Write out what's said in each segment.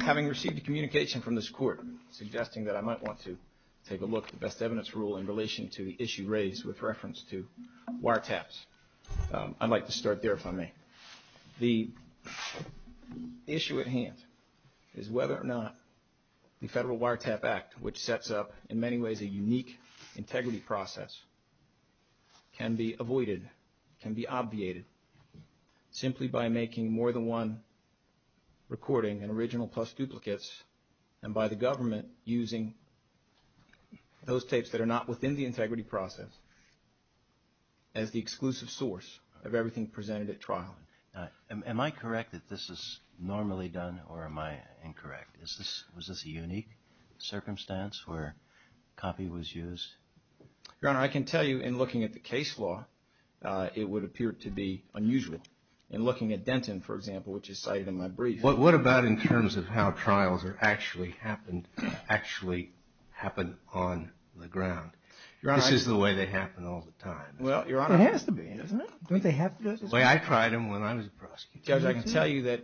Having received a communication from this court suggesting that I might want to take a look at the best evidence rule in relation to the issue raised with reference to wiretaps, I'd like to start there if I may. The issue at hand is whether or not the Federal Wiretap Act, which sets up in many ways a unique integrity process, can be avoided, can be obviated, simply by making more than one recording in original plus duplicates and by the government using those tapes that are not within the integrity process as the exclusive source of everything presented at trial. Am I correct that this is normally done or am I incorrect? Was this a unique circumstance where copy was used? Your Honor, I can tell you in looking at the case law, it would appear to be unusual. In looking at Denton, for example, which is cited in my brief. What about in terms of how trials are actually happened, actually happen on the ground? This is the way they happen all the time. It has to be, doesn't it? Judge, I can tell you that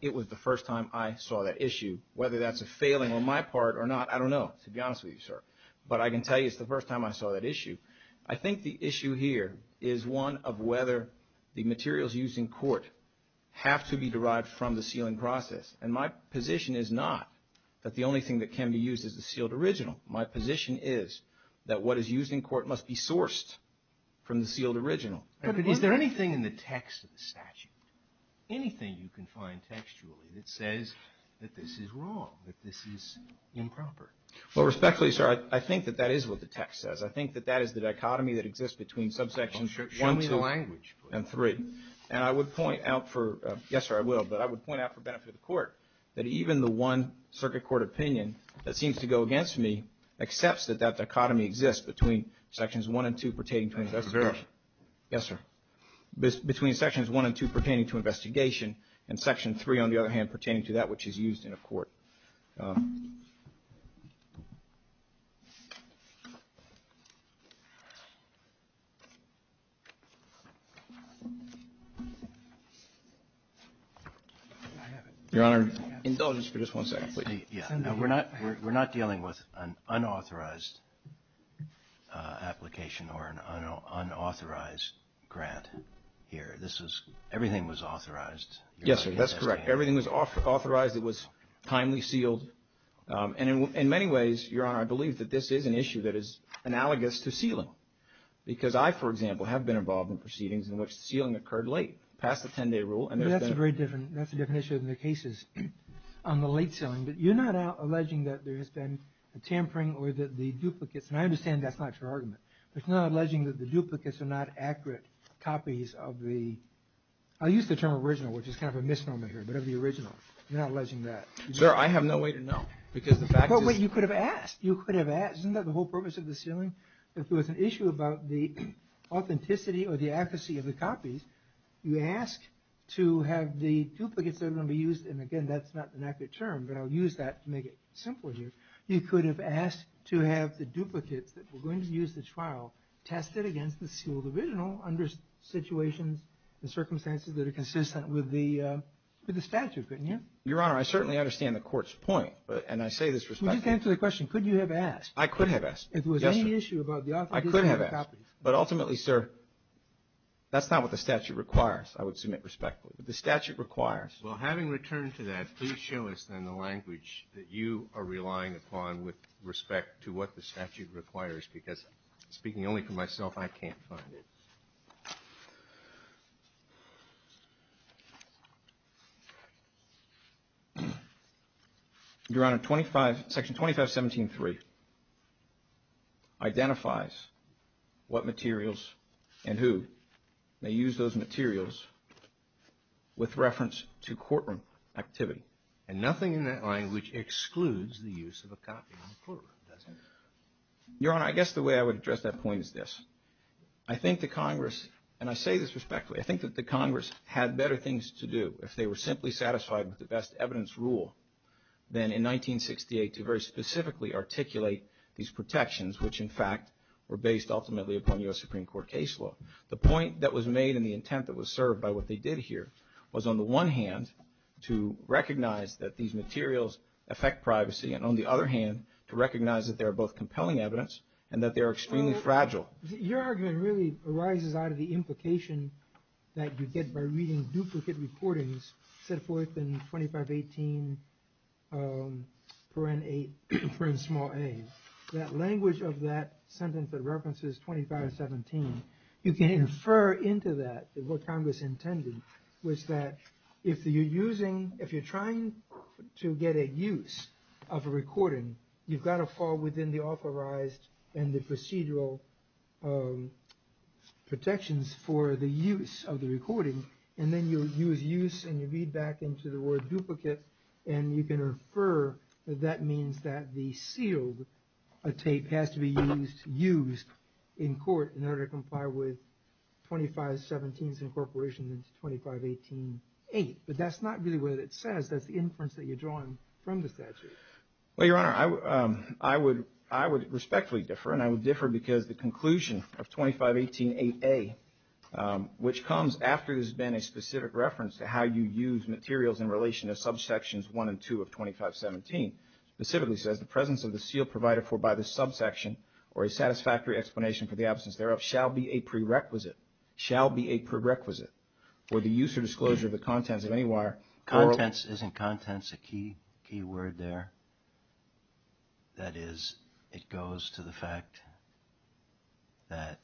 it was the first time I saw that issue. Whether that's a failing on my part or not, I don't know, to be honest with you, sir. But I can tell you it's the first time I saw that issue. I think the issue here is one of whether the materials used in court have to be derived from the sealing process. And my position is not that the only thing that can be used is the sealed original. My position is that what is used in court must be sourced from the sealed original. But is there anything in the text of the statute, anything you can find textually that says that this is wrong, that this is improper? Well, respectfully, sir, I think that that is what the text says. I think that that is the dichotomy that exists between subsections one, two, and three. And I would point out for, yes, sir, I will, but I would point out for benefit of the court that even the one circuit court opinion that seems to go against me accepts that that dichotomy exists between sections one and two pertaining to investigation. Yes, sir. Between sections one and two pertaining to investigation and section three, on the other hand, pertaining to that which is used in a court. Your Honor, indulgence for just one second, please. We're not dealing with an unauthorized application or an unauthorized grant here. Everything was authorized. Yes, sir, that's correct. Everything was authorized. It was timely sealed. And in many ways, Your Honor, I believe that this is an issue that is analogous to sealing. Because I, for example, have been involved in proceedings in which sealing occurred late, past the 10-day rule. That's a very different, that's a different issue than the cases on the late sealing. But you're not alleging that there has been a tampering or that the duplicates, and I understand that's not your argument, but you're not alleging that the duplicates are not accurate copies of the, I'll use the term original, which is kind of a misnomer here, but of the original. You're not alleging that. Sir, I have no way to know, because the fact is. But you could have asked. You could have asked. Isn't that the whole purpose of the sealing? If there was an issue about the authenticity or the accuracy of the copies, you ask to have the duplicates that are going to be used, and again, that's not an accurate term, but I'll use that to make it simpler here. You could have asked to have the duplicates that were going to use the trial tested against the sealed original under situations and circumstances that are consistent with the statute, couldn't you? Your Honor, I certainly understand the Court's point, and I say this respectfully. You just answered the question, could you have asked? I could have asked, yes, sir. If there was any issue about the authenticity of the copies. I could have asked, but ultimately, sir, that's not what the statute requires, I would submit respectfully. The statute requires. Well, having returned to that, please show us then the language that you are relying upon with respect to what the statute requires, because speaking only for myself, I can't find it. Your Honor, Section 2517.3 identifies what materials and who may use those materials with reference to courtroom activity. And nothing in that language excludes the use of a copy in the courtroom, does it? Your Honor, I guess the way I would address that point is this. I think the Congress, and I say this respectfully, I think that the Congress had better things to do if they were simply satisfied with the best evidence rule than in 1968 to very specifically articulate these protections, which in fact were based ultimately upon U.S. Supreme Court case law. The point that was made and the intent that was served by what they did here was, on the one hand, to recognize that these materials affect privacy, and on the other hand, to recognize that they are both compelling evidence and that they are extremely fragile. Well, your argument really arises out of the implication that you get by reading duplicate recordings set forth in 2518.8, that language of that sentence that references 2517. You can infer into that what Congress intended was that if you're trying to get a use of a recording, you've got to fall within the authorized and the procedural protections for the use of the recording. And then you use use and you read back into the word duplicate, and you can infer that that means that the sealed tape has to be used in court in order to comply with 2517's incorporation into 2518.8. But that's not really what it says. That's the inference that you're drawing from the statute. Well, your Honor, I would respectfully differ, and I would differ because the conclusion of 2518.8a, which comes after there's been a specific reference to how you use materials in relation to subsections 1 and 2 of 2517, specifically says the presence of the seal provided for by the subsection or a satisfactory explanation for the absence thereof shall be a prerequisite, shall be a prerequisite for the use or disclosure of the contents of any wire. Contents, isn't contents a key word there? That is, it goes to the fact that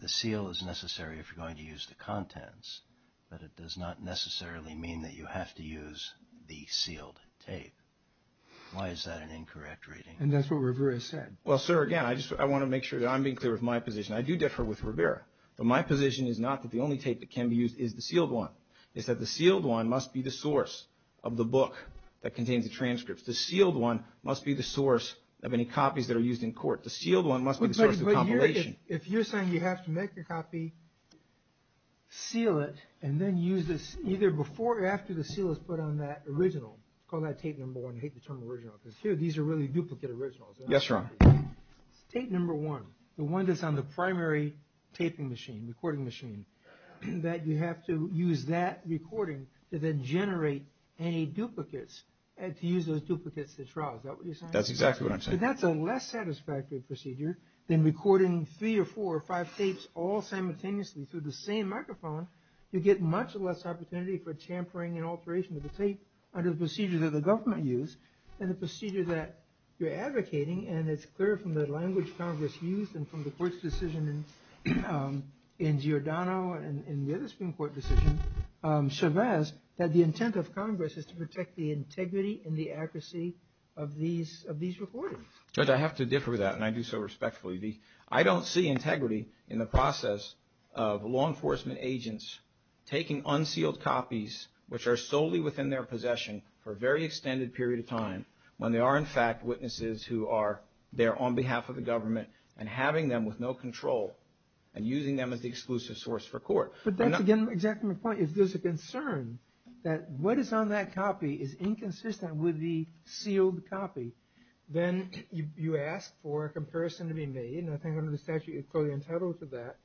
the seal is necessary if you're going to use the contents, but it does not necessarily mean that you have to use the sealed tape. Why is that an incorrect reading? And that's what Rivera said. Well, sir, again, I want to make sure that I'm being clear with my position. I do differ with Rivera, but my position is not that the only tape that can be used is the sealed one. It's that the sealed one must be the source of the book that contains the transcripts. The sealed one must be the source of any copies that are used in court. The sealed one must be the source of the compilation. If you're saying you have to make a copy, seal it, and then use this either before or after the seal is put on that original, call that tape number one. I hate the term original because here these are really duplicate originals. Yes, Your Honor. Tape number one, the one that's on the primary taping machine, recording machine, that you have to use that recording to then generate any duplicates and to use those duplicates to trial. Is that what you're saying? That's exactly what I'm saying. If that's a less satisfactory procedure than recording three or four or five tapes all simultaneously through the same microphone, you get much less opportunity for tampering and alteration of the tape under the procedure that the government used and the procedure that you're advocating. And it's clear from the language Congress used and from the court's decision in Giordano and the other Supreme Court decision, Chavez, that the intent of Congress is to protect the integrity and the accuracy of these recordings. Judge, I have to differ with that, and I do so respectfully. I don't see integrity in the process of law enforcement agents taking unsealed copies, which are solely within their possession for a very extended period of time, when they are, in fact, witnesses who are there on behalf of the government and having them with no control and using them as the exclusive source for court. But that's, again, exactly my point. If there's a concern that what is on that copy is inconsistent with the sealed copy, then you ask for a comparison to be made, and I think under the statute you're fully entitled to that.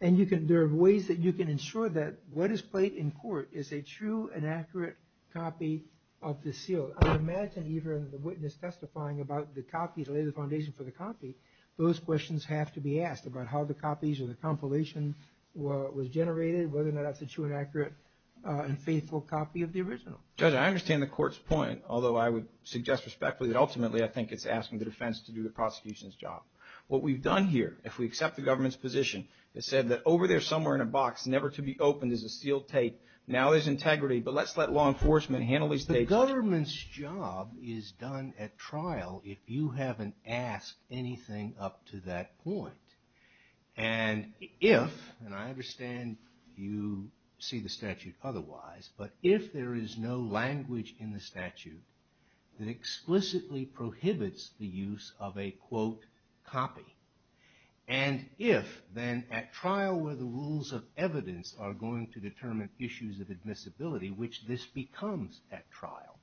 And there are ways that you can ensure that what is played in court is a true and accurate copy of the seal. I would imagine even the witness testifying about the copy to lay the foundation for the copy, those questions have to be asked about how the copies or the compilation was generated, whether or not that's a true and accurate and faithful copy of the original. Judge, I understand the court's point, although I would suggest respectfully that ultimately I think it's asking the defense to do the prosecution's job. What we've done here, if we accept the government's position, it said that over there somewhere in a box never to be opened is a sealed tape. Now there's integrity, but let's let law enforcement handle these tapes. The government's job is done at trial if you haven't asked anything up to that point. And if, and I understand you see the statute otherwise, but if there is no language in the statute that explicitly prohibits the use of a, quote, copy, and if then at trial where the rules of evidence are going to determine issues of admissibility, which this becomes at trial,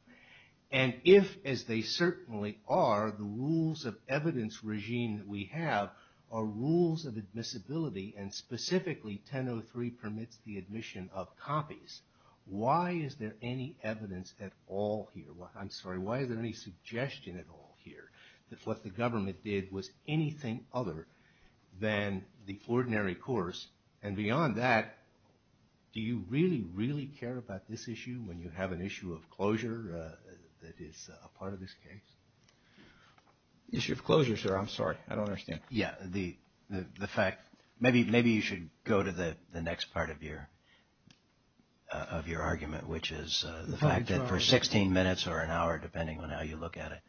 and if, as they certainly are, the rules of evidence regime that we have are rules of admissibility and specifically 1003 permits the admission of copies, why is there any evidence at all here? I'm sorry. Why is there any suggestion at all here that what the government did was anything other than the ordinary course? And beyond that, do you really, really care about this issue when you have an issue of closure that is a part of this case? Issue of closure, sir. I'm sorry. I don't understand. Yeah. The fact, maybe you should go to the next part of your argument, which is the fact that for 16 minutes or an hour, depending on how you look at it,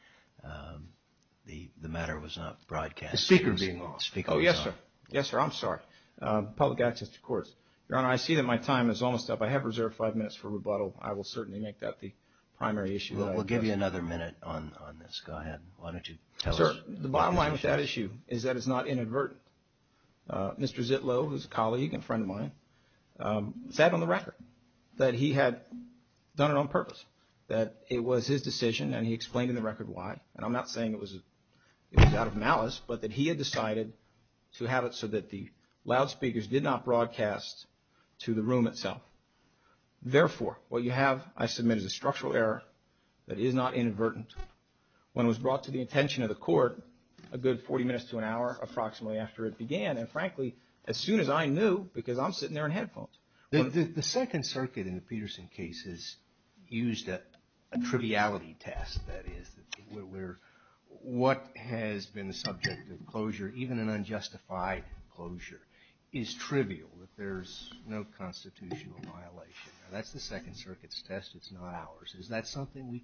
the matter was not broadcast. The speaker being off. The speaker was off. Oh, yes, sir. Yes, sir. I'm sorry. Public access to courts. Your Honor, I see that my time is almost up. I have reserved five minutes for rebuttal. I will certainly make that the primary issue. We'll give you another minute on this. Go ahead. Why don't you tell us. Well, sir, the bottom line with that issue is that it's not inadvertent. Mr. Zitlow, who's a colleague and friend of mine, said on the record that he had done it on purpose, that it was his decision, and he explained in the record why. And I'm not saying it was out of malice, but that he had decided to have it so that the loudspeakers did not broadcast to the room itself. Therefore, what you have, I submit, is a structural error that is not inadvertent. When it was brought to the attention of the court, a good 40 minutes to an hour approximately after it began, and frankly, as soon as I knew, because I'm sitting there in headphones. The Second Circuit in the Peterson case has used a triviality test, that is, where what has been the subject of closure, even an unjustified closure, is trivial, that there's no constitutional violation. That's the Second Circuit's test. It's not ours. Is that something we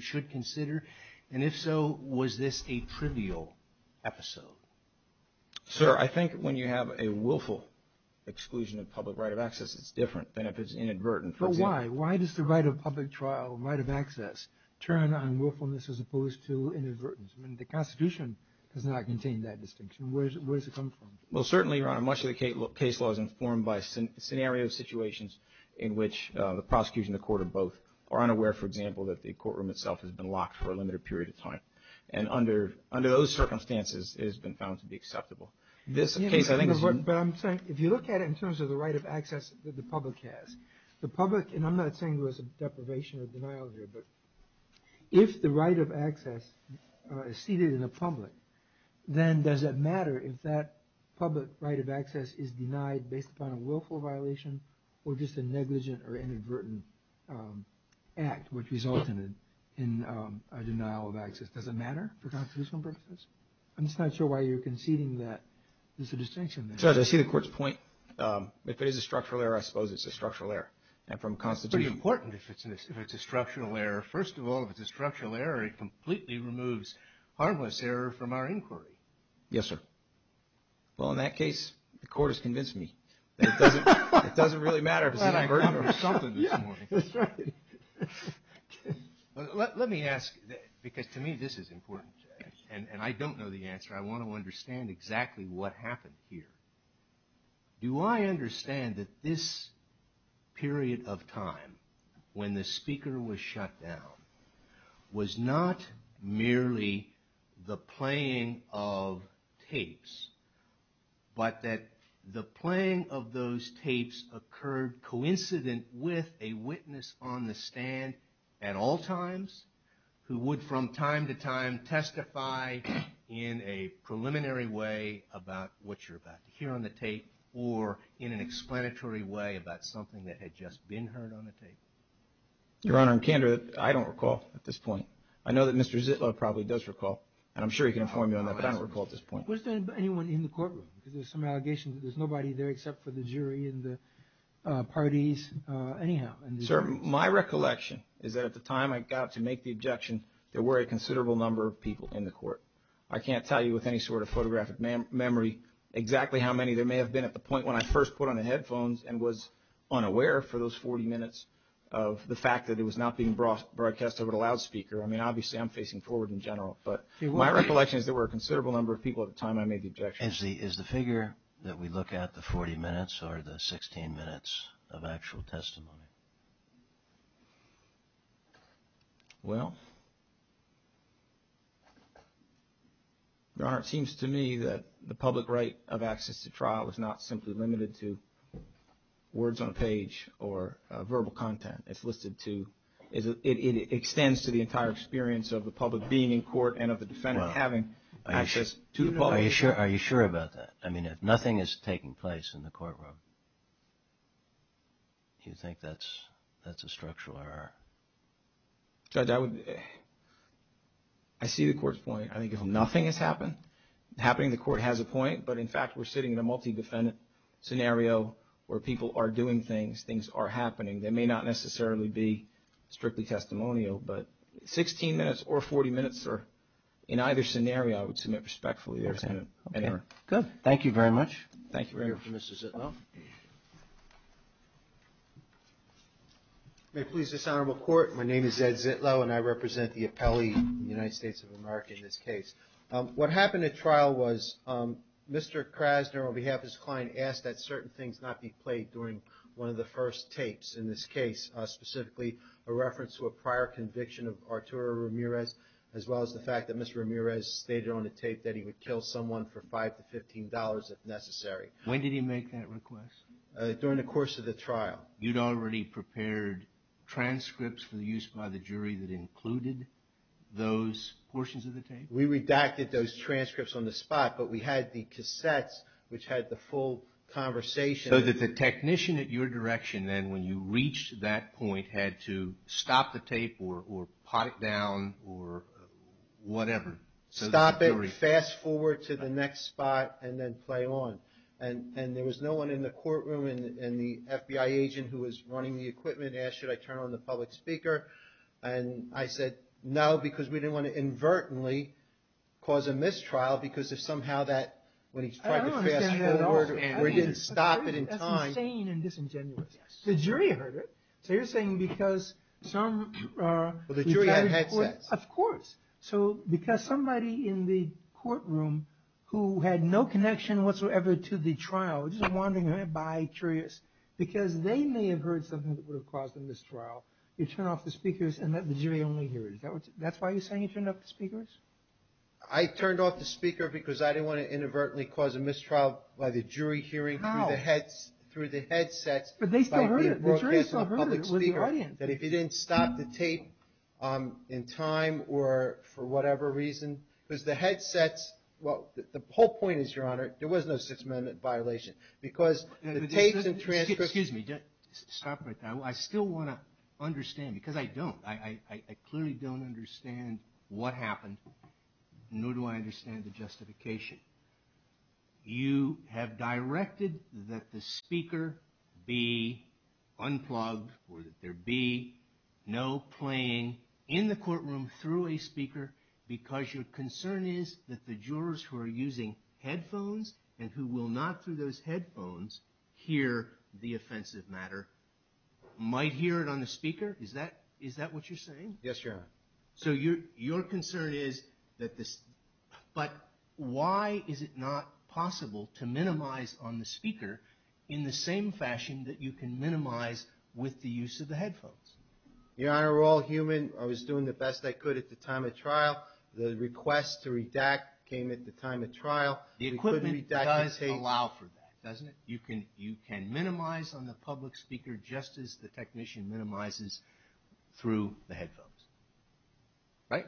should consider? And if so, was this a trivial episode? Sir, I think when you have a willful exclusion of public right of access, it's different than if it's inadvertent. But why? Why does the right of public trial, right of access, turn on willfulness as opposed to inadvertence? I mean, the Constitution does not contain that distinction. Where does it come from? Well, certainly, Your Honor, much of the case law is informed by scenarios, situations in which the prosecution, the court, or both are unaware, for example, that the courtroom itself has been locked for a limited period of time. And under those circumstances, it has been found to be acceptable. But I'm saying, if you look at it in terms of the right of access that the public has, the public, and I'm not saying there was a deprivation or denial here, but if the right of access is ceded in the public, then does it matter if that public right of access is denied based upon a willful violation or just a negligent or inadvertent act which resulted in a denial of access? Does it matter for constitutional purposes? I'm just not sure why you're conceding that there's a distinction there. Judge, I see the court's point. If it is a structural error, I suppose it's a structural error. And from the Constitution... It's pretty important if it's a structural error. First of all, if it's a structural error, it completely removes harmless error from our inquiry. Yes, sir. Well, in that case, the court has convinced me. It doesn't really matter if it's inadvertent or something this morning. Yeah, that's right. Let me ask, because to me this is important, and I don't know the answer. I want to understand exactly what happened here. Do I understand that this period of time when the speaker was shut down was not merely the playing of tapes, but that the playing of those tapes occurred coincident with a witness on the stand at all times who would from time to time testify in a preliminary way about what you're about to hear on the tape or in an explanatory way about something that had just been heard on the tape? Your Honor, in candor, I don't recall at this point. I know that Mr. Zitlow probably does recall, and I'm sure he can inform you on that, but I don't recall at this point. Was there anyone in the courtroom? Because there's some allegations that there's nobody there except for the jury and the parties. Sir, my recollection is that at the time I got to make the objection, there were a considerable number of people in the court. I can't tell you with any sort of photographic memory exactly how many there may have been at the point when I first put on the headphones and was unaware for those 40 minutes of the fact that it was not being broadcast over the loudspeaker. I mean, obviously I'm facing forward in general, but my recollection is there were a considerable number of people at the time I made the objection. Is the figure that we look at the 40 minutes or the 16 minutes of actual testimony? Well, Your Honor, it seems to me that the public right of access to trial is not simply limited to words on a page or verbal content. It's listed to, it extends to the entire experience of the public being in court Are you sure about that? I mean, if nothing is taking place in the courtroom, do you think that's a structural error? I see the court's point. I think if nothing has happened, happening in the court has a point, but in fact we're sitting in a multi-defendant scenario where people are doing things, things are happening. They may not necessarily be strictly testimonial, but 16 minutes or 40 minutes in either scenario I would submit respectfully. Okay. Good. Thank you very much. Thank you, Mr. Zitlow. May it please this honorable court, my name is Ed Zitlow and I represent the appellee in the United States of America in this case. What happened at trial was Mr. Krasner on behalf of his client asked that certain things not be played during one of the first tapes in this case, specifically a reference to a prior conviction of Arturo Ramirez as well as the fact that Mr. Ramirez stated on the tape that he would kill someone for $5 to $15 if necessary. When did he make that request? During the course of the trial. You'd already prepared transcripts for use by the jury that included those portions of the tape? We redacted those transcripts on the spot, but we had the cassettes which had the full conversation. So that the technician at your direction then when you reached that point had to stop the tape or pot it down or whatever. Stop it, fast forward to the next spot and then play on. And there was no one in the courtroom and the FBI agent who was running the equipment asked should I turn on the public speaker and I said no because we didn't want to inadvertently cause a mistrial because if somehow that when he tried to fast forward or he didn't stop it in time. That's insane and disingenuous. The jury heard it. So you're saying because some... Well, the jury had headsets. Of course. So because somebody in the courtroom who had no connection whatsoever to the trial just wandering around by, curious, because they may have heard something that would have caused a mistrial, you turn off the speakers and let the jury only hear it. That's why you're saying you turned off the speakers? I turned off the speaker because I didn't want to inadvertently cause a mistrial by the jury hearing through the headsets. But they still heard it. The jury still heard it with the audience. That if you didn't stop the tape in time or for whatever reason because the headsets, well, the whole point is, Your Honor, there was no Sixth Amendment violation because the tapes and transcripts... Excuse me, stop right there. I still want to understand because I don't. I clearly don't understand what happened, nor do I understand the justification. You have directed that the speaker be unplugged or that there be no playing in the courtroom through a speaker because your concern is that the jurors who are using headphones and who will not through those headphones hear the offensive matter might hear it on the speaker? Is that what you're saying? Yes, Your Honor. So your concern is that this... But why is it not possible to minimize on the speaker in the same fashion that you can minimize with the use of the headphones? Your Honor, we're all human. I was doing the best I could at the time of trial. The request to redact came at the time of trial. The equipment does allow for that, doesn't it? You can minimize on the public speaker just as the technician minimizes through the headphones, right?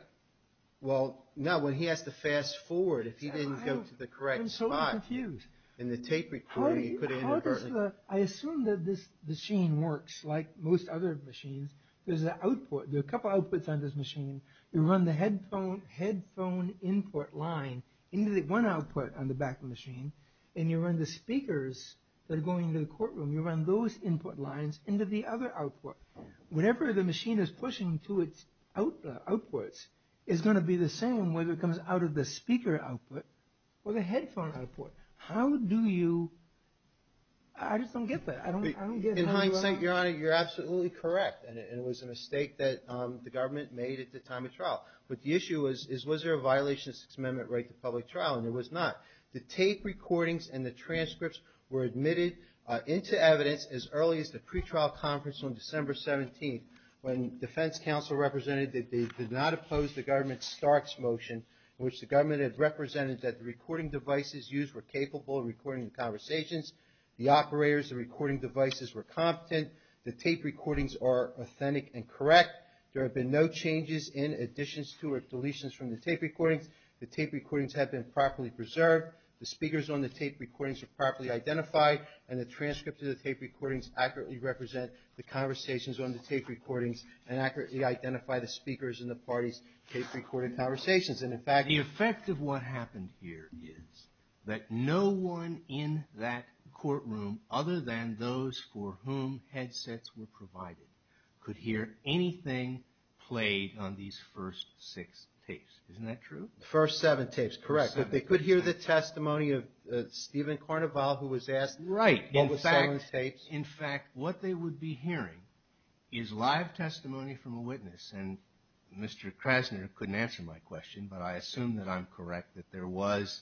Well, no, when he has to fast forward, if he didn't go to the correct spot... I'm so confused. In the tape recording, he put it in inadvertently. I assume that this machine works like most other machines. There's a couple outputs on this machine. You run the headphone input line into the one output on the back of the machine, and you run the speakers that are going into the courtroom, you run those input lines into the other output. Whatever the machine is pushing to its outputs is going to be the same whether it comes out of the speaker output or the headphone output. How do you... I just don't get that. In hindsight, Your Honor, you're absolutely correct, and it was a mistake that the government made at the time of trial. But the issue is was there a violation of the Sixth Amendment right to public trial, and there was not. The tape recordings and the transcripts were admitted into evidence as early as the pretrial conference on December 17th when defense counsel represented that they did not oppose the government's Starks motion in which the government had represented that the recording devices used were capable of recording the conversations, the operators of the recording devices were competent, the tape recordings are authentic and correct, there have been no changes in additions to or deletions from the tape recordings, the tape recordings have been properly preserved, the speakers on the tape recordings are properly identified, and the transcripts of the tape recordings accurately represent the conversations on the tape recordings and accurately identify the speakers in the parties' tape recording conversations. And in fact... The effect of what happened here is that no one in that courtroom other than those for whom headsets were provided could hear anything played on these first six tapes. Isn't that true? The first seven tapes, correct. But they could hear the testimony of Stephen Carnival who was asked... Right. In fact, what they would be hearing is live testimony from a witness, and Mr. Krasner couldn't answer my question, but I assume that I'm correct that there was,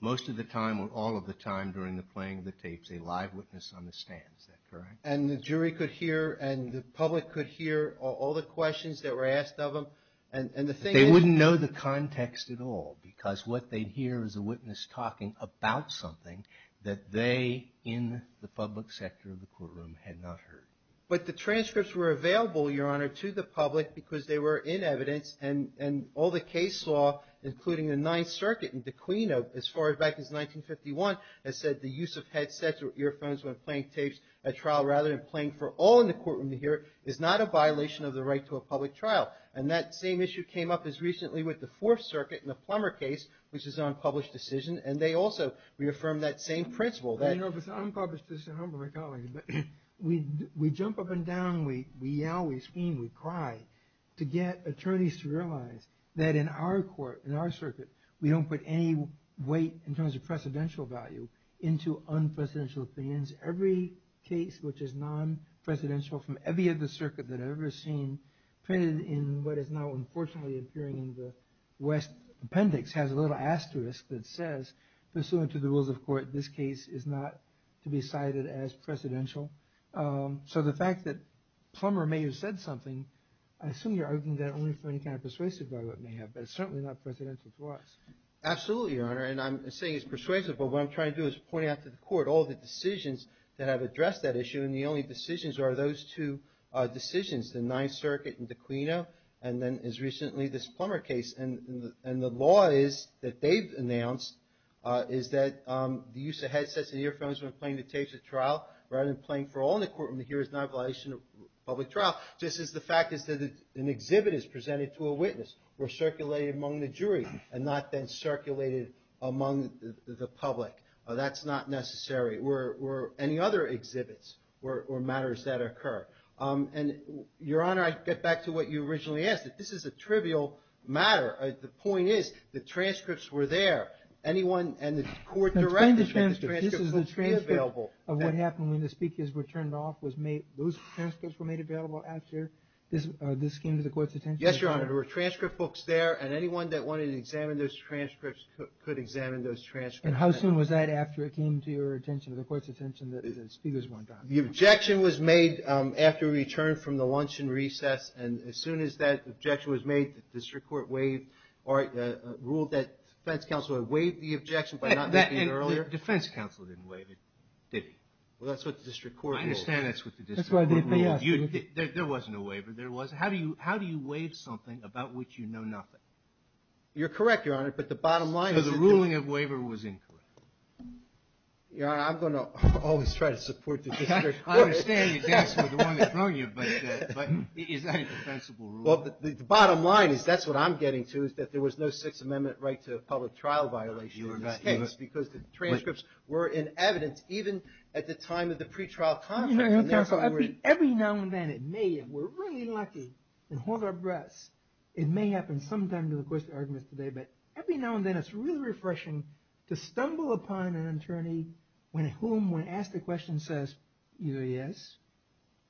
most of the time or all of the time during the playing of the tapes, a live witness on the stand. Is that correct? And the jury could hear and the public could hear all the questions that were asked of them, and the thing is... There was no context at all, because what they'd hear is a witness talking about something that they in the public sector of the courtroom had not heard. But the transcripts were available, Your Honor, to the public because they were in evidence, and all the case law, including the Ninth Circuit and the Queen, as far back as 1951, that said the use of headsets or earphones when playing tapes at trial rather than playing for all in the courtroom to hear is not a violation of the right to a public trial. And that same issue came up as recently with the Fourth Circuit in the Plummer case, which is an unpublished decision, and they also reaffirmed that same principle that... I know, but I'm published as a humbler colleague, but we jump up and down, we yell, we scream, we cry to get attorneys to realize that in our court, in our circuit, we don't put any weight in terms of precedential value into unprecedented things. Every case which is non-presidential from every other circuit that I've ever seen printed in what is now unfortunately appearing in the West Appendix has a little asterisk that says, pursuant to the rules of court, this case is not to be cited as precedential. So the fact that Plummer may have said something, I assume you're arguing that only for any kind of persuasive value it may have, but it's certainly not precedential to us. Absolutely, Your Honor, and I'm saying it's persuasive, but what I'm trying to do is point out to the court all the decisions that have addressed that issue, and the only decisions are those two decisions, the Ninth Circuit and De Quino, and then as recently this Plummer case, and the law is that they've announced is that the use of headsets and earphones when playing the tapes at trial, rather than playing for all in the courtroom to hear is not a violation of public trial. Just as the fact is that an exhibit is presented to a witness or circulated among the jury and not then circulated among the public. That's not necessary, or any other exhibits or matters that occur. And Your Honor, I get back to what you originally asked. This is a trivial matter. The point is the transcripts were there. Anyone and the court directed that the transcripts be available. This is the transcript of what happened when the speakers were turned off. Those transcripts were made available after this came to the court's attention? Yes, Your Honor, there were transcript books there, and anyone that wanted to examine those transcripts could examine those transcripts. And how soon was that after it came to your attention, to the court's attention, that the speakers weren't on? The objection was made after we returned from the lunch and recess, and as soon as that objection was made, the district court ruled that defense counsel had waived the objection by not making it earlier. And defense counsel didn't waive it, did he? Well, that's what the district court ruled. I understand that's what the district court ruled. There wasn't a waiver. There was. How do you waive something about which you know nothing? You're correct, Your Honor, but the bottom line is that the ruling of waiver was incorrect. Your Honor, I'm going to always try to support the district court. I understand you're dancing with the one that's wrong you, but is that a defensible rule? Well, the bottom line is that's what I'm getting to, is that there was no Sixth Amendment right to a public trial violation in this case because the transcripts were in evidence even at the time of the pretrial conference. Every now and then it may, and we're really lucky, and hold our breaths, it may happen sometime to the discretion to stumble upon an attorney whom, when asked a question, says either yes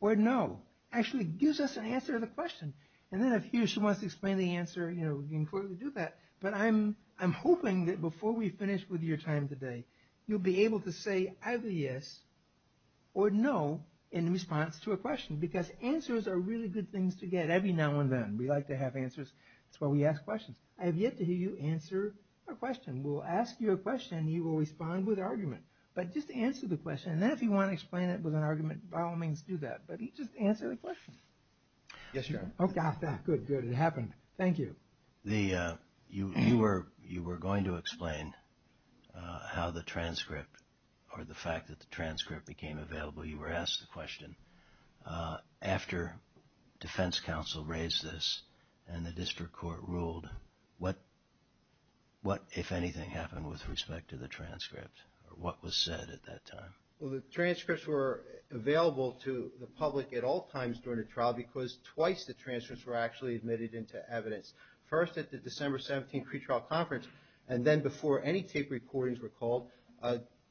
or no, actually gives us an answer to the question. And then if he or she wants to explain the answer, we can clearly do that. But I'm hoping that before we finish with your time today, you'll be able to say either yes or no in response to a question because answers are really good things to get every now and then. We like to have answers. That's why we ask questions. I have yet to hear you answer a question. We'll ask you a question. You will respond with an argument. But just answer the question. And then if you want to explain it with an argument, by all means do that. But just answer the question. Yes, Your Honor. Oh, got that. Good, good. It happened. Thank you. You were going to explain how the transcript, or the fact that the transcript became available, you were asked the question. After defense counsel raised this and the district court ruled, what, if anything, happened with respect to the transcript, or what was said at that time? Well, the transcripts were available to the public at all times during the trial because twice the transcripts were actually admitted into evidence. First at the December 17 pretrial conference, and then before any tape recordings were called,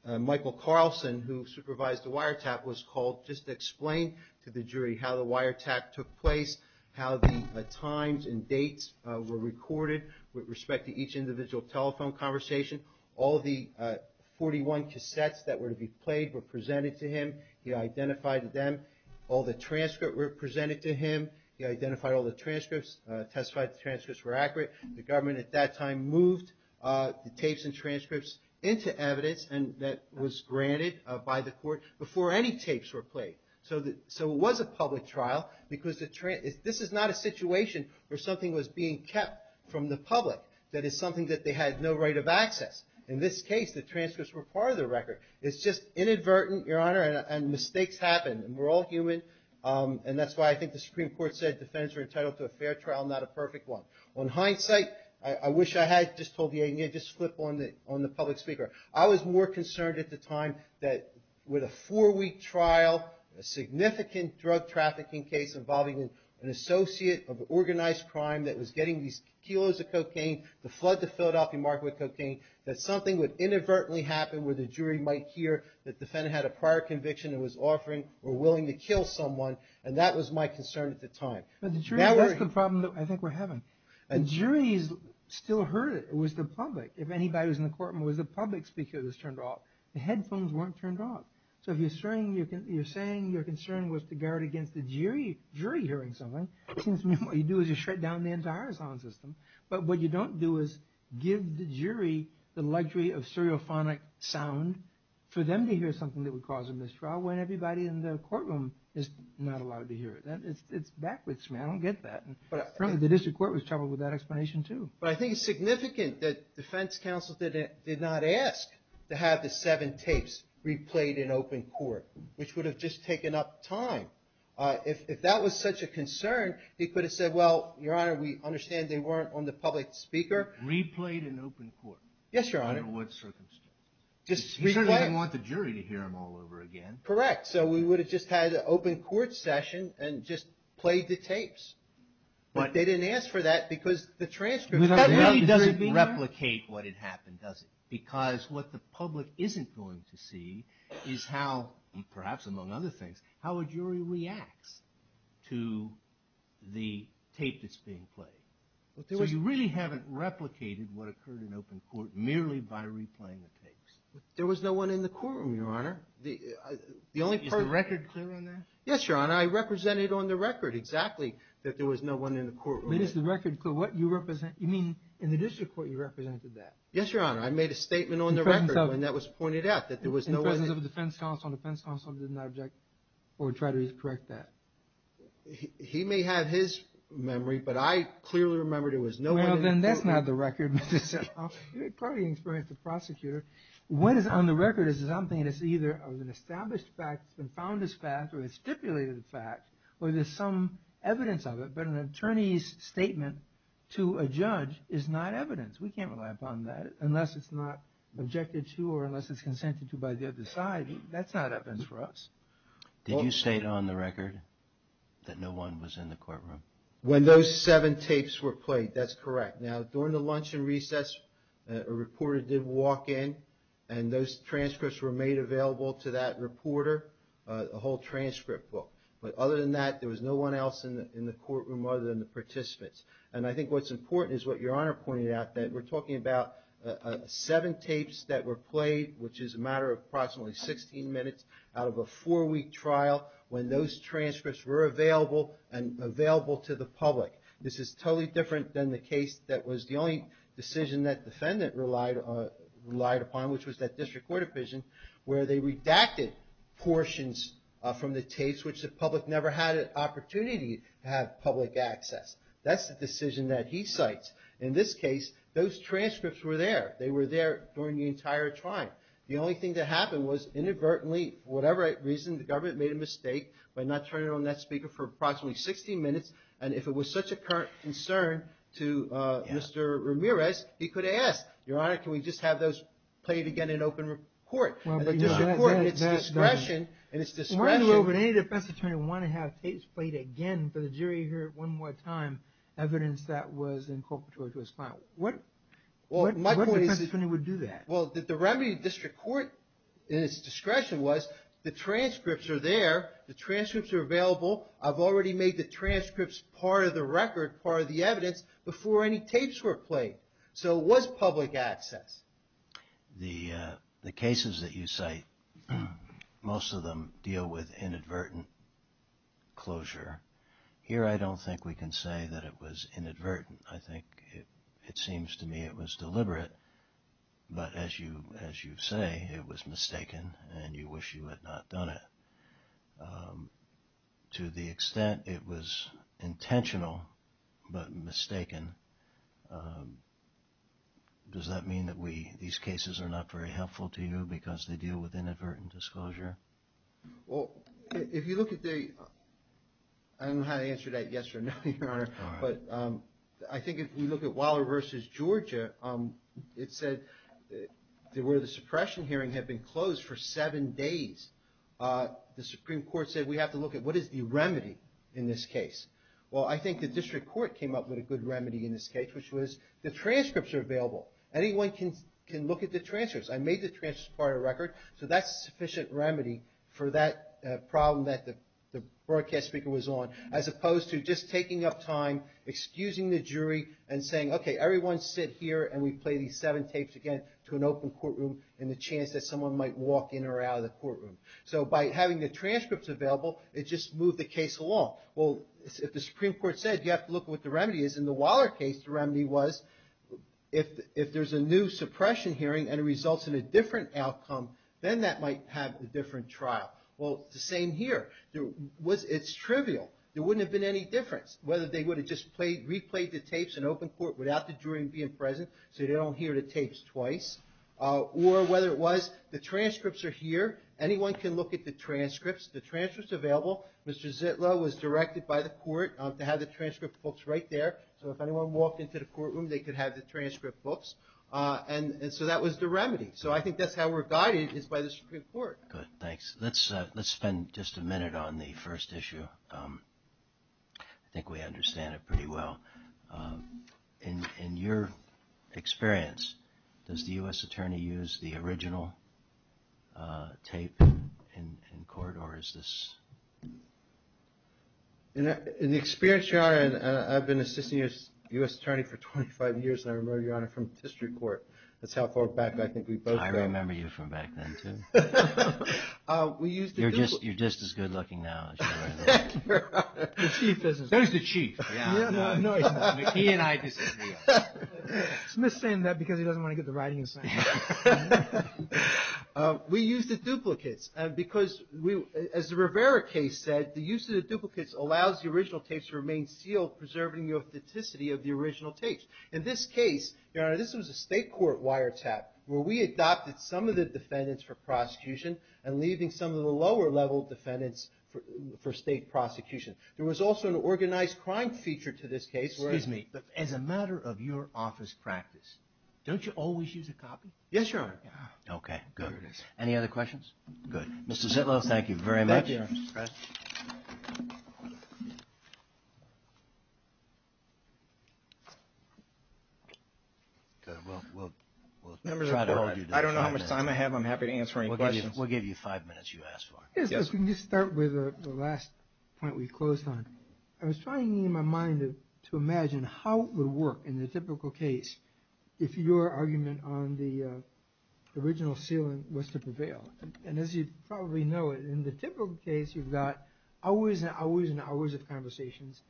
Michael Carlson, who supervised the wiretap, was called just to explain to the jury how the wiretap took place, how the times and dates were recorded with respect to each individual telephone conversation. All the 41 cassettes that were to be played were presented to him. He identified them. All the transcripts were presented to him. He identified all the transcripts, testified the transcripts were accurate. The government at that time moved the tapes and transcripts into evidence that was granted by the court before any tapes were played. So it was a public trial because this is not a situation where something was being kept from the public that is something that they had no right of access. In this case, the transcripts were part of the record. It's just inadvertent, Your Honor, and mistakes happen, and we're all human, and that's why I think the Supreme Court said defendants were entitled to a fair trial, not a perfect one. On hindsight, I wish I had just told you, just flip on the public speaker. I was more concerned at the time that with a four-week trial, a significant drug trafficking case involving an associate of organized crime that was getting these kilos of cocaine to flood the Philadelphia market with cocaine, that something would inadvertently happen where the jury might hear that the defendant had a prior conviction and was offering or willing to kill someone, and that was my concern at the time. That was the problem that I think we're having. The jury still heard it. It was the public. If anybody was in the courtroom, it was the public speaker that was turned off. The headphones weren't turned off. So if you're saying your concern was to guard against the jury hearing something, it seems to me what you do is you shred down the entire sound system. But what you don't do is give the jury the luxury of stereophonic sound for them to hear something that would cause a mistrial when everybody in the courtroom is not allowed to hear it. It's backwards, man. I don't get that. The district court was troubled with that explanation, too. But I think it's significant that defense counsel did not ask to have the seven tapes replayed in open court, which would have just taken up time. If that was such a concern, he could have said, well, Your Honor, we understand they weren't on the public speaker. Replayed in open court? Yes, Your Honor. Under what circumstances? Just replayed. He certainly didn't want the jury to hear them all over again. Correct. So we would have just had an open court session and just played the tapes. But they didn't ask for that because the transcript. That really doesn't replicate what had happened, does it? Because what the public isn't going to see is how, perhaps among other things, how a jury reacts to the tape that's being played. So you really haven't replicated what occurred in open court merely by replaying the tapes. There was no one in the courtroom, Your Honor. Is the record clear on that? Yes, Your Honor. I represented on the record exactly that there was no one in the courtroom. But is the record clear what you represent? You mean in the district court you represented that? Yes, Your Honor. I made a statement on the record when that was pointed out, that there was no one in the courtroom. In presence of the defense counsel, the defense counsel did not object or try to correct that. He may have his memory, but I clearly remember there was no one in the courtroom. Well, then that's not the record, Mr. Semple. You probably experienced the prosecutor. What is on the record is something that's either an established fact that's been found as fact or a stipulated fact, or there's some evidence of it, but an attorney's statement to a judge is not evidence. We can't rely upon that unless it's not objected to or unless it's consented to by the other side. That's not evidence for us. Did you state on the record that no one was in the courtroom? When those seven tapes were played, that's correct. Now, during the luncheon recess, a reporter did walk in, and those transcripts were made available to that reporter, a whole transcript book. other than the participants. And I think what's important is what Your Honor pointed out, that we're talking about seven tapes that were played, which is a matter of approximately 16 minutes, out of a four-week trial when those transcripts were available and available to the public. This is totally different than the case that was the only decision that defendant relied upon, which was that district court opinion, where they redacted portions from the tapes, which the public never had an opportunity to have public access. That's the decision that he cites. In this case, those transcripts were there. They were there during the entire trial. The only thing that happened was, inadvertently, for whatever reason, the government made a mistake by not turning on that speaker for approximately 16 minutes. And if it was such a current concern to Mr. Ramirez, he could have asked, Your Honor, can we just have those played again in open court? It's discretion, and it's discretion. Why would any defense attorney want to have tapes played again and for the jury to hear it one more time, evidence that was incorporated to his client? What defense attorney would do that? Well, the remedy to district court, in its discretion, was the transcripts are there. The transcripts are available. I've already made the transcripts part of the record, part of the evidence, before any tapes were played. So it was public access. The cases that you cite, most of them deal with inadvertent closure. Here I don't think we can say that it was inadvertent. I think it seems to me it was deliberate. But as you say, it was mistaken, and you wish you had not done it. To the extent it was intentional, but mistaken, does that mean that these cases are not very helpful to you because they deal with inadvertent disclosure? Well, if you look at the – I don't know how to answer that yes or no, Your Honor. But I think if you look at Waller v. Georgia, it said where the suppression hearing had been closed for seven days, the Supreme Court said we have to look at what is the remedy in this case. Well, I think the district court came up with a good remedy in this case, which was the transcripts are available. Anyone can look at the transcripts. I made the transcripts part of the record, so that's a sufficient remedy for that problem that the broadcast speaker was on, as opposed to just taking up time, excusing the jury, and saying, okay, everyone sit here and we play these seven tapes again to an open courtroom and the chance that someone might walk in or out of the courtroom. So by having the transcripts available, it just moved the case along. Well, if the Supreme Court said you have to look at what the remedy is, in the Waller case the remedy was if there's a new suppression hearing and it results in a different outcome, then that might have a different trial. Well, it's the same here. It's trivial. There wouldn't have been any difference, whether they would have just replayed the tapes in open court without the jury being present so they don't hear the tapes twice, or whether it was the transcripts are here. Anyone can look at the transcripts. The transcripts are available. Mr. Zitlow was directed by the court to have the transcript books right there, so if anyone walked into the courtroom, they could have the transcript books. And so that was the remedy. So I think that's how we're guided is by the Supreme Court. Good. Thanks. Let's spend just a minute on the first issue. I think we understand it pretty well. In your experience, does the U.S. Attorney use the original tape in court, or is this? In the experience, Your Honor, I've been assisting the U.S. Attorney for 25 years, and I remember, Your Honor, from district court. That's how far back I think we've both been. I remember you from back then, too. You're just as good looking now as you were. There's the chief. He and I disagree. Smith's saying that because he doesn't want to get the writing in his hand. We use the duplicates because, as the Rivera case said, the use of the duplicates allows the original tapes to remain sealed, preserving the authenticity of the original tapes. In this case, Your Honor, this was a state court wiretap where we adopted some of the defendants for prosecution and leaving some of the lower level defendants for state prosecution. There was also an organized crime feature to this case. Excuse me. As a matter of your office practice, don't you always use a copy? Yes, Your Honor. Okay. Good. Any other questions? Good. Mr. Zitlow, thank you very much. Thank you, Your Honor. All right. Members of the board, I don't know how much time I have. I'm happy to answer any questions. We'll give you five minutes you asked for. Yes, let's just start with the last point we closed on. I was trying in my mind to imagine how it would work in the typical case if your argument on the original sealing was to prevail. And as you probably know, in the typical case, you've got hours and hours and hours of conversations,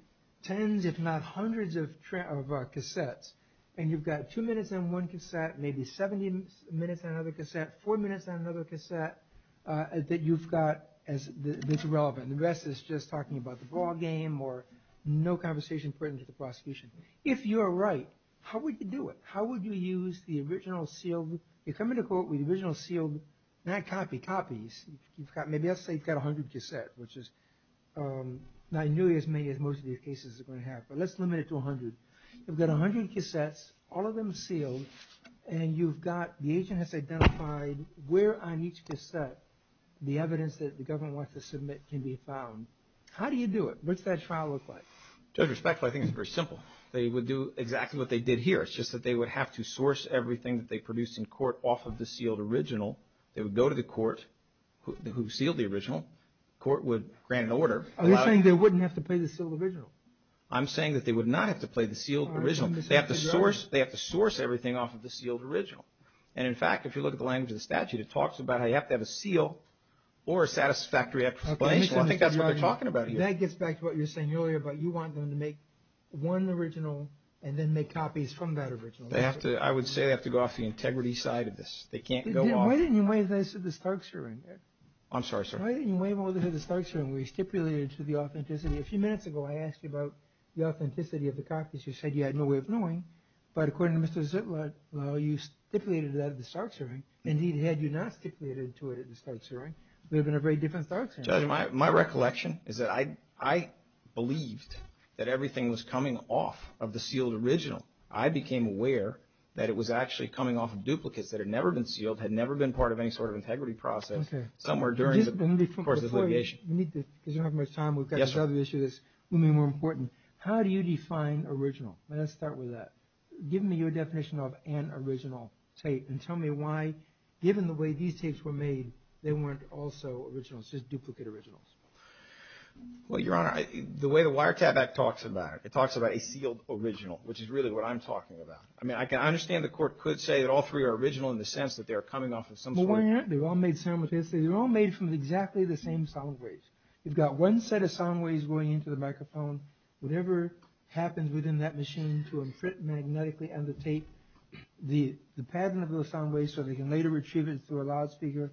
tens if not hundreds of cassettes. And you've got two minutes on one cassette, maybe 70 minutes on another cassette, four minutes on another cassette that you've got that's irrelevant. The rest is just talking about the ballgame or no conversation pertinent to the prosecution. If you're right, how would you do it? How would you use the original sealed? You come into court with the original sealed, not copy copies. Maybe I'll say you've got 100 cassettes, which is not nearly as many as most of these cases are going to have, but let's limit it to 100. You've got 100 cassettes, all of them sealed, and you've got the agent has identified where on each cassette the evidence that the government wants to submit can be found. How do you do it? What's that trial look like? Judge, respectfully, I think it's very simple. They would do exactly what they did here. It's just that they would have to source everything that they produced in court off of the sealed original. They would go to the court who sealed the original. The court would grant an order. Are you saying they wouldn't have to play the sealed original? I'm saying that they would not have to play the sealed original. They have to source everything off of the sealed original. And in fact, if you look at the language of the statute, it talks about how you have to have a seal or a satisfactory explanation. I think that's what they're talking about here. That gets back to what you were saying earlier about you want them to make one original and then make copies from that original. I would say they have to go off the integrity side of this. They can't go off. Why didn't you waive this at the Starks hearing? I'm sorry, sir. Why didn't you waive this at the Starks hearing where you stipulated to the authenticity? A few minutes ago, I asked you about the authenticity of the copies. You said you had no way of knowing. But according to Mr. Ziplot, well, you stipulated that at the Starks hearing, and he had you not stipulated to it at the Starks hearing. We have a very different Starks hearing. Judge, my recollection is that I believed that everything was coming off of the sealed original. I became aware that it was actually coming off of duplicates that had never been sealed, had never been part of any sort of integrity process somewhere during the course of the litigation. Because we don't have much time, we've got another issue that's going to be more important. How do you define original? Let's start with that. Give me your definition of an original tape and tell me why, given the way these tapes were made, they weren't also originals, just duplicate originals. Well, Your Honor, the way the Wiretap Act talks about it, it talks about a sealed original, which is really what I'm talking about. I mean, I understand the court could say that all three are original in the sense that they are coming off of some sort of... Well, why aren't they? They're all made from exactly the same sound waves. You've got one set of sound waves going into the microphone. Whatever happens within that machine to imprint magnetically on the tape, the pattern of those sound waves, so they can later retrieve it through a loudspeaker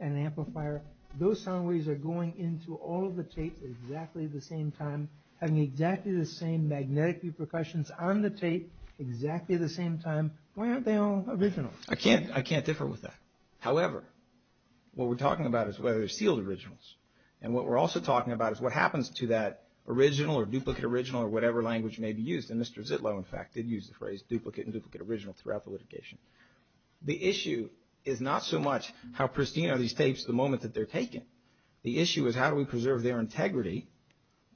and an amplifier, those sound waves are going into all of the tapes at exactly the same time, having exactly the same magnetic repercussions on the tape, exactly at the same time. Why aren't they all originals? I can't differ with that. However, what we're talking about is whether they're sealed originals. And what we're also talking about is what happens to that original or duplicate original or whatever language may be used. And Mr. Zitlow, in fact, did use the phrase duplicate and duplicate original throughout the litigation. The issue is not so much how pristine are these tapes the moment that they're taken. The issue is how do we preserve their integrity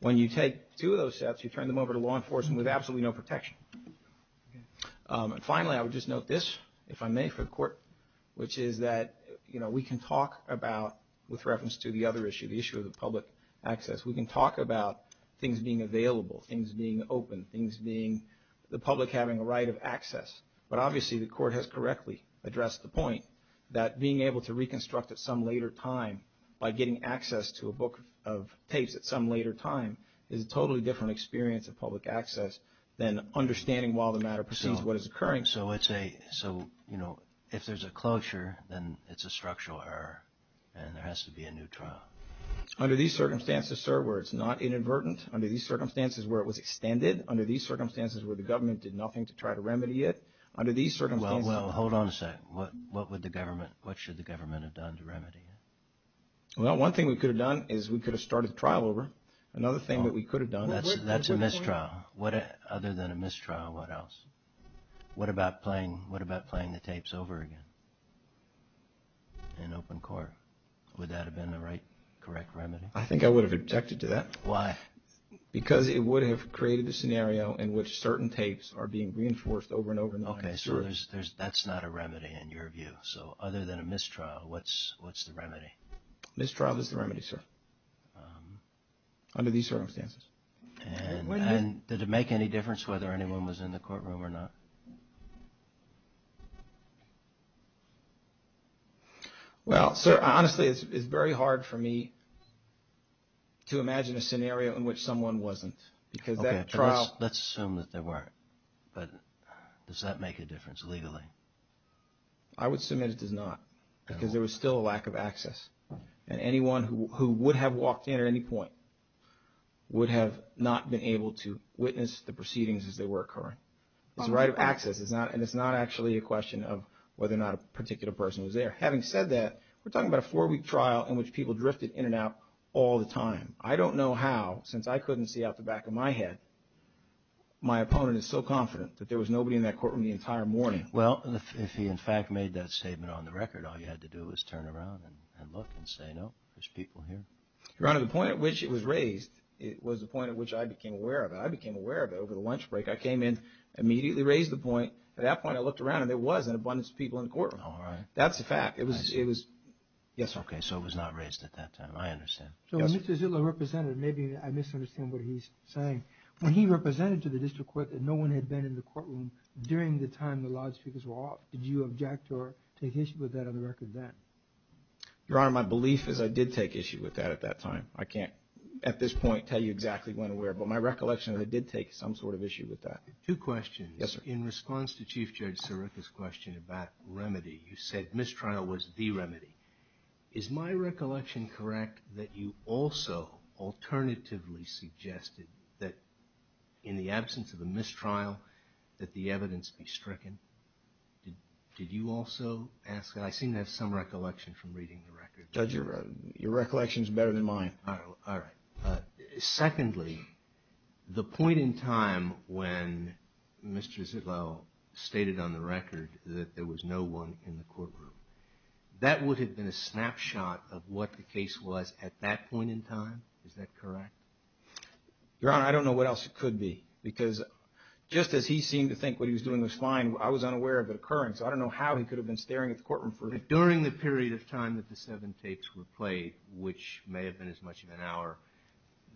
when you take two of those sets, you turn them over to law enforcement with absolutely no protection. And finally, I would just note this, if I may, for the Court, which is that we can talk about, with reference to the other issue, the issue of the public access, things being open, things being the public having a right of access. But obviously, the Court has correctly addressed the point that being able to reconstruct at some later time by getting access to a book of tapes at some later time is a totally different experience of public access than understanding while the matter proceeds what is occurring. So if there's a closure, then it's a structural error and there has to be a new trial. Under these circumstances, sir, where it's not inadvertent, under these circumstances where it was extended, under these circumstances where the government did nothing to try to remedy it, under these circumstances... Well, hold on a second. What should the government have done to remedy it? Well, one thing we could have done is we could have started the trial over. Another thing that we could have done... That's a mistrial. Other than a mistrial, what else? What about playing the tapes over again in open court? Would that have been the right, correct remedy? I think I would have objected to that. Why? Because it would have created a scenario in which certain tapes are being reinforced over and over again. Okay, so that's not a remedy in your view. So other than a mistrial, what's the remedy? Mistrial is the remedy, sir, under these circumstances. And did it make any difference whether anyone was in the courtroom or not? Well, sir, honestly, it's very hard for me to imagine a scenario in which someone wasn't because that trial... Okay, let's assume that there weren't. But does that make a difference legally? I would submit it does not because there was still a lack of access. And anyone who would have walked in at any point would have not been able to witness the proceedings as they were occurring. It's a right of access, and it's not actually a question of whether or not a particular person was there. Having said that, we're talking about a four-week trial in which people drifted in and out all the time. I don't know how, since I couldn't see out the back of my head, my opponent is so confident that there was nobody in that courtroom the entire morning. Well, if he in fact made that statement on the record, all you had to do was turn around and look and say, no, there's people here. Your Honor, the point at which it was raised was the point at which I became aware of it. I became aware of it over the lunch break. I came in, immediately raised the point. At that point, I looked around, and there was an abundance of people in the courtroom. All right. That's a fact. Yes, okay, so it was not raised at that time. I understand. So when Mr. Zillow represented, maybe I misunderstand what he's saying. When he represented to the district court that no one had been in the courtroom during the time the lodge speakers were off, did you object or take issue with that on the record then? Your Honor, my belief is I did take issue with that at that time. I can't, at this point, tell you exactly when and where, but my recollection is I did take some sort of issue with that. Two questions. Yes, sir. In response to Chief Judge Sirica's question about remedy, you said mistrial was the remedy. Is my recollection correct that you also alternatively suggested that in the absence of a mistrial, that the evidence be stricken? Did you also ask that? I seem to have some recollection from reading the record. Judge, your recollection is better than mine. All right. Secondly, the point in time when Mr. Zillow stated on the record that there was no one in the courtroom, that would have been a snapshot of what the case was at that point in time? Is that correct? Your Honor, I don't know what else it could be, because just as he seemed to think what he was doing was fine, I was unaware of it occurring, so I don't know how he could have been staring at the courtroom for that. During the period of time that the seven tapes were played, which may have been as much of an hour,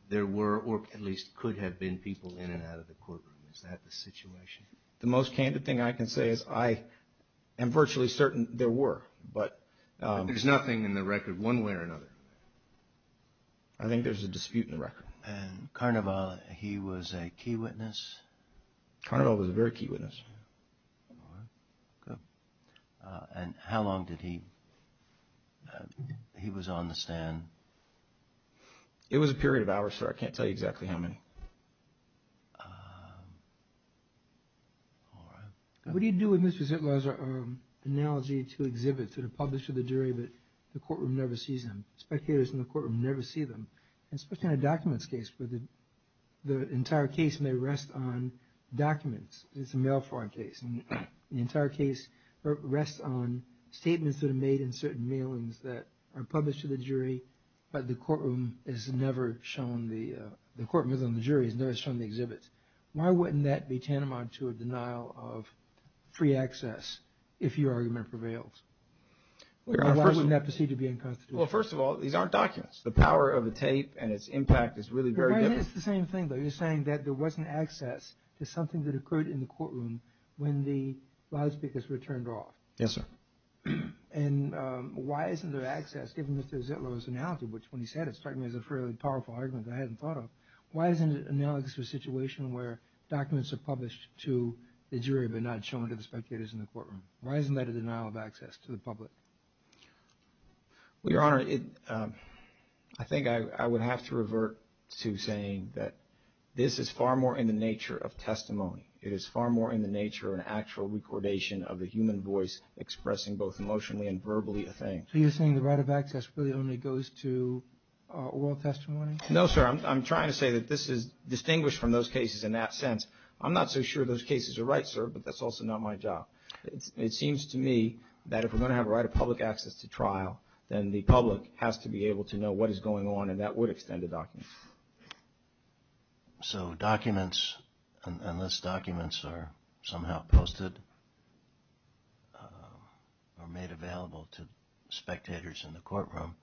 there were or at least could have been people in and out of the courtroom. Is that the situation? The most candid thing I can say is I am virtually certain there were. But there's nothing in the record one way or another. I think there's a dispute in the record. And Carnival, he was a key witness? Carnival was a very key witness. All right. Good. And how long did he—he was on the stand? It was a period of hours, sir. I can't tell you exactly how many. All right. What do you do with Mr. Zitlow's analogy to exhibits that are published to the jury but the courtroom never sees them, spectators in the courtroom never see them, especially in a documents case, where the entire case may rest on documents. It's a mail fraud case. The entire case rests on statements that are made in certain mailings that are published to the jury, but the courtroom has never shown the— the courtroom has never shown the exhibits. Why wouldn't that be tantamount to a denial of free access if your argument prevails? Why wouldn't that proceed to be unconstitutional? Well, first of all, these aren't documents. The power of a tape and its impact is really very different. It is the same thing, though. You're saying that there wasn't access to something that occurred in the courtroom when the loudspeakers were turned off. Yes, sir. And why isn't there access, given Mr. Zitlow's analogy, which when he said it struck me as a fairly powerful argument that I hadn't thought of, why isn't it analogous to a situation where documents are published to the jury but not shown to the spectators in the courtroom? Why isn't that a denial of access to the public? Well, Your Honor, I think I would have to revert to saying that this is far more in the nature of testimony. It is far more in the nature of an actual recordation of the human voice expressing both emotionally and verbally a thing. So you're saying the right of access really only goes to oral testimony? No, sir. I'm trying to say that this is distinguished from those cases in that sense. I'm not so sure those cases are right, sir, but that's also not my job. It seems to me that if we're going to have a right of public access to trial, then the public has to be able to know what is going on, and that would extend to documents. So documents, unless documents are somehow posted or made available to spectators in the courtroom,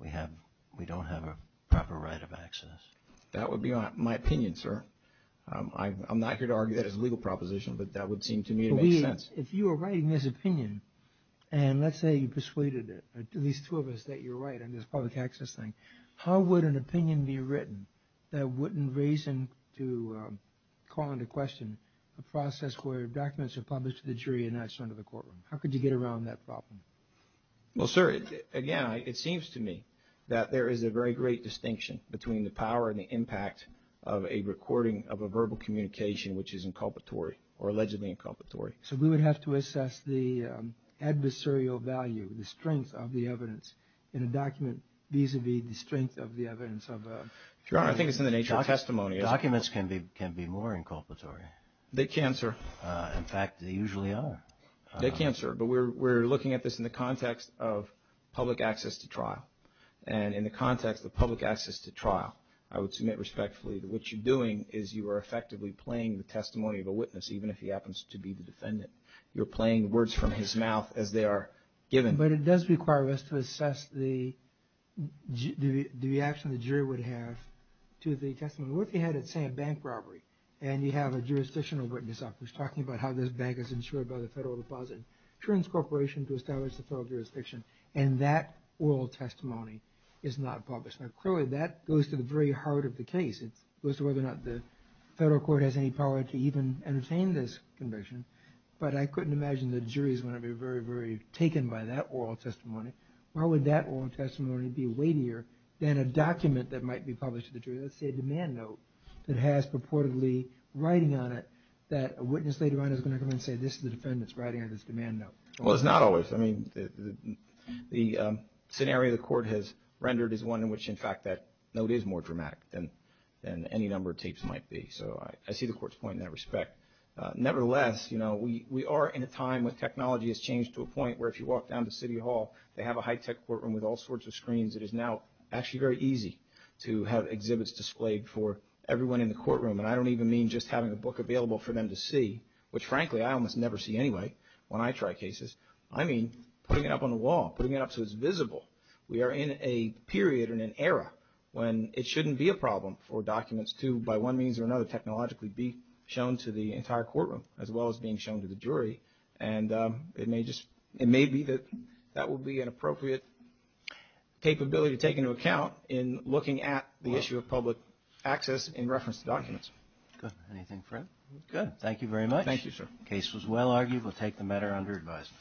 we don't have a proper right of access. That would be my opinion, sir. I'm not here to argue that it's a legal proposition, but that would seem to me to make sense. If you were writing this opinion, and let's say you persuaded it, at least two of us, that you're right on this public access thing, how would an opinion be written that wouldn't raise to call into question a process where documents are published to the jury and not shown to the courtroom? How could you get around that problem? Well, sir, again, it seems to me that there is a very great distinction between the power and the impact of a recording of a verbal communication which is inculpatory or allegedly inculpatory. So we would have to assess the adversarial value, the strength of the evidence in a document vis-à-vis the strength of the evidence of a… Your Honor, I think it's in the nature of testimony. Documents can be more inculpatory. They can, sir. In fact, they usually are. They can, sir. But we're looking at this in the context of public access to trial. And in the context of public access to trial, I would submit respectfully to what you're doing is you are effectively playing the testimony of a witness, even if he happens to be the defendant. You're playing words from his mouth as they are given. But it does require us to assess the reaction the jury would have to the testimony. What if you had, let's say, a bank robbery, and you have a jurisdictional witness up who's talking about how this bank is insured by the Federal Deposit Insurance Corporation to establish the federal jurisdiction, and that oral testimony is not published? Now, clearly, that goes to the very heart of the case. It goes to whether or not the federal court has any power to even entertain this conviction. But I couldn't imagine the jury is going to be very, very taken by that oral testimony. Why would that oral testimony be weightier than a document that might be published to the jury? Let's say a demand note that has purportedly writing on it that a witness later on is going to come in and say, this is the defendant's writing on this demand note. Well, it's not always. I mean, the scenario the court has rendered is one in which, in fact, that note is more dramatic than any number of tapes might be. So I see the court's point in that respect. Nevertheless, we are in a time when technology has changed to a point where if you walk down to City Hall, they have a high-tech courtroom with all sorts of screens. It is now actually very easy to have exhibits displayed for everyone in the courtroom. And I don't even mean just having a book available for them to see, which, frankly, I almost never see anyway when I try cases. I mean putting it up on the wall, putting it up so it's visible. We are in a period and an era when it shouldn't be a problem for documents to, by one means or another, technologically be shown to the entire courtroom, as well as being shown to the jury. And it may be that that would be an appropriate capability to take into account in looking at the issue of public access in reference to documents. Anything further? Good. Thank you very much. Thank you, sir. The case was well argued. We'll take the matter under advisement.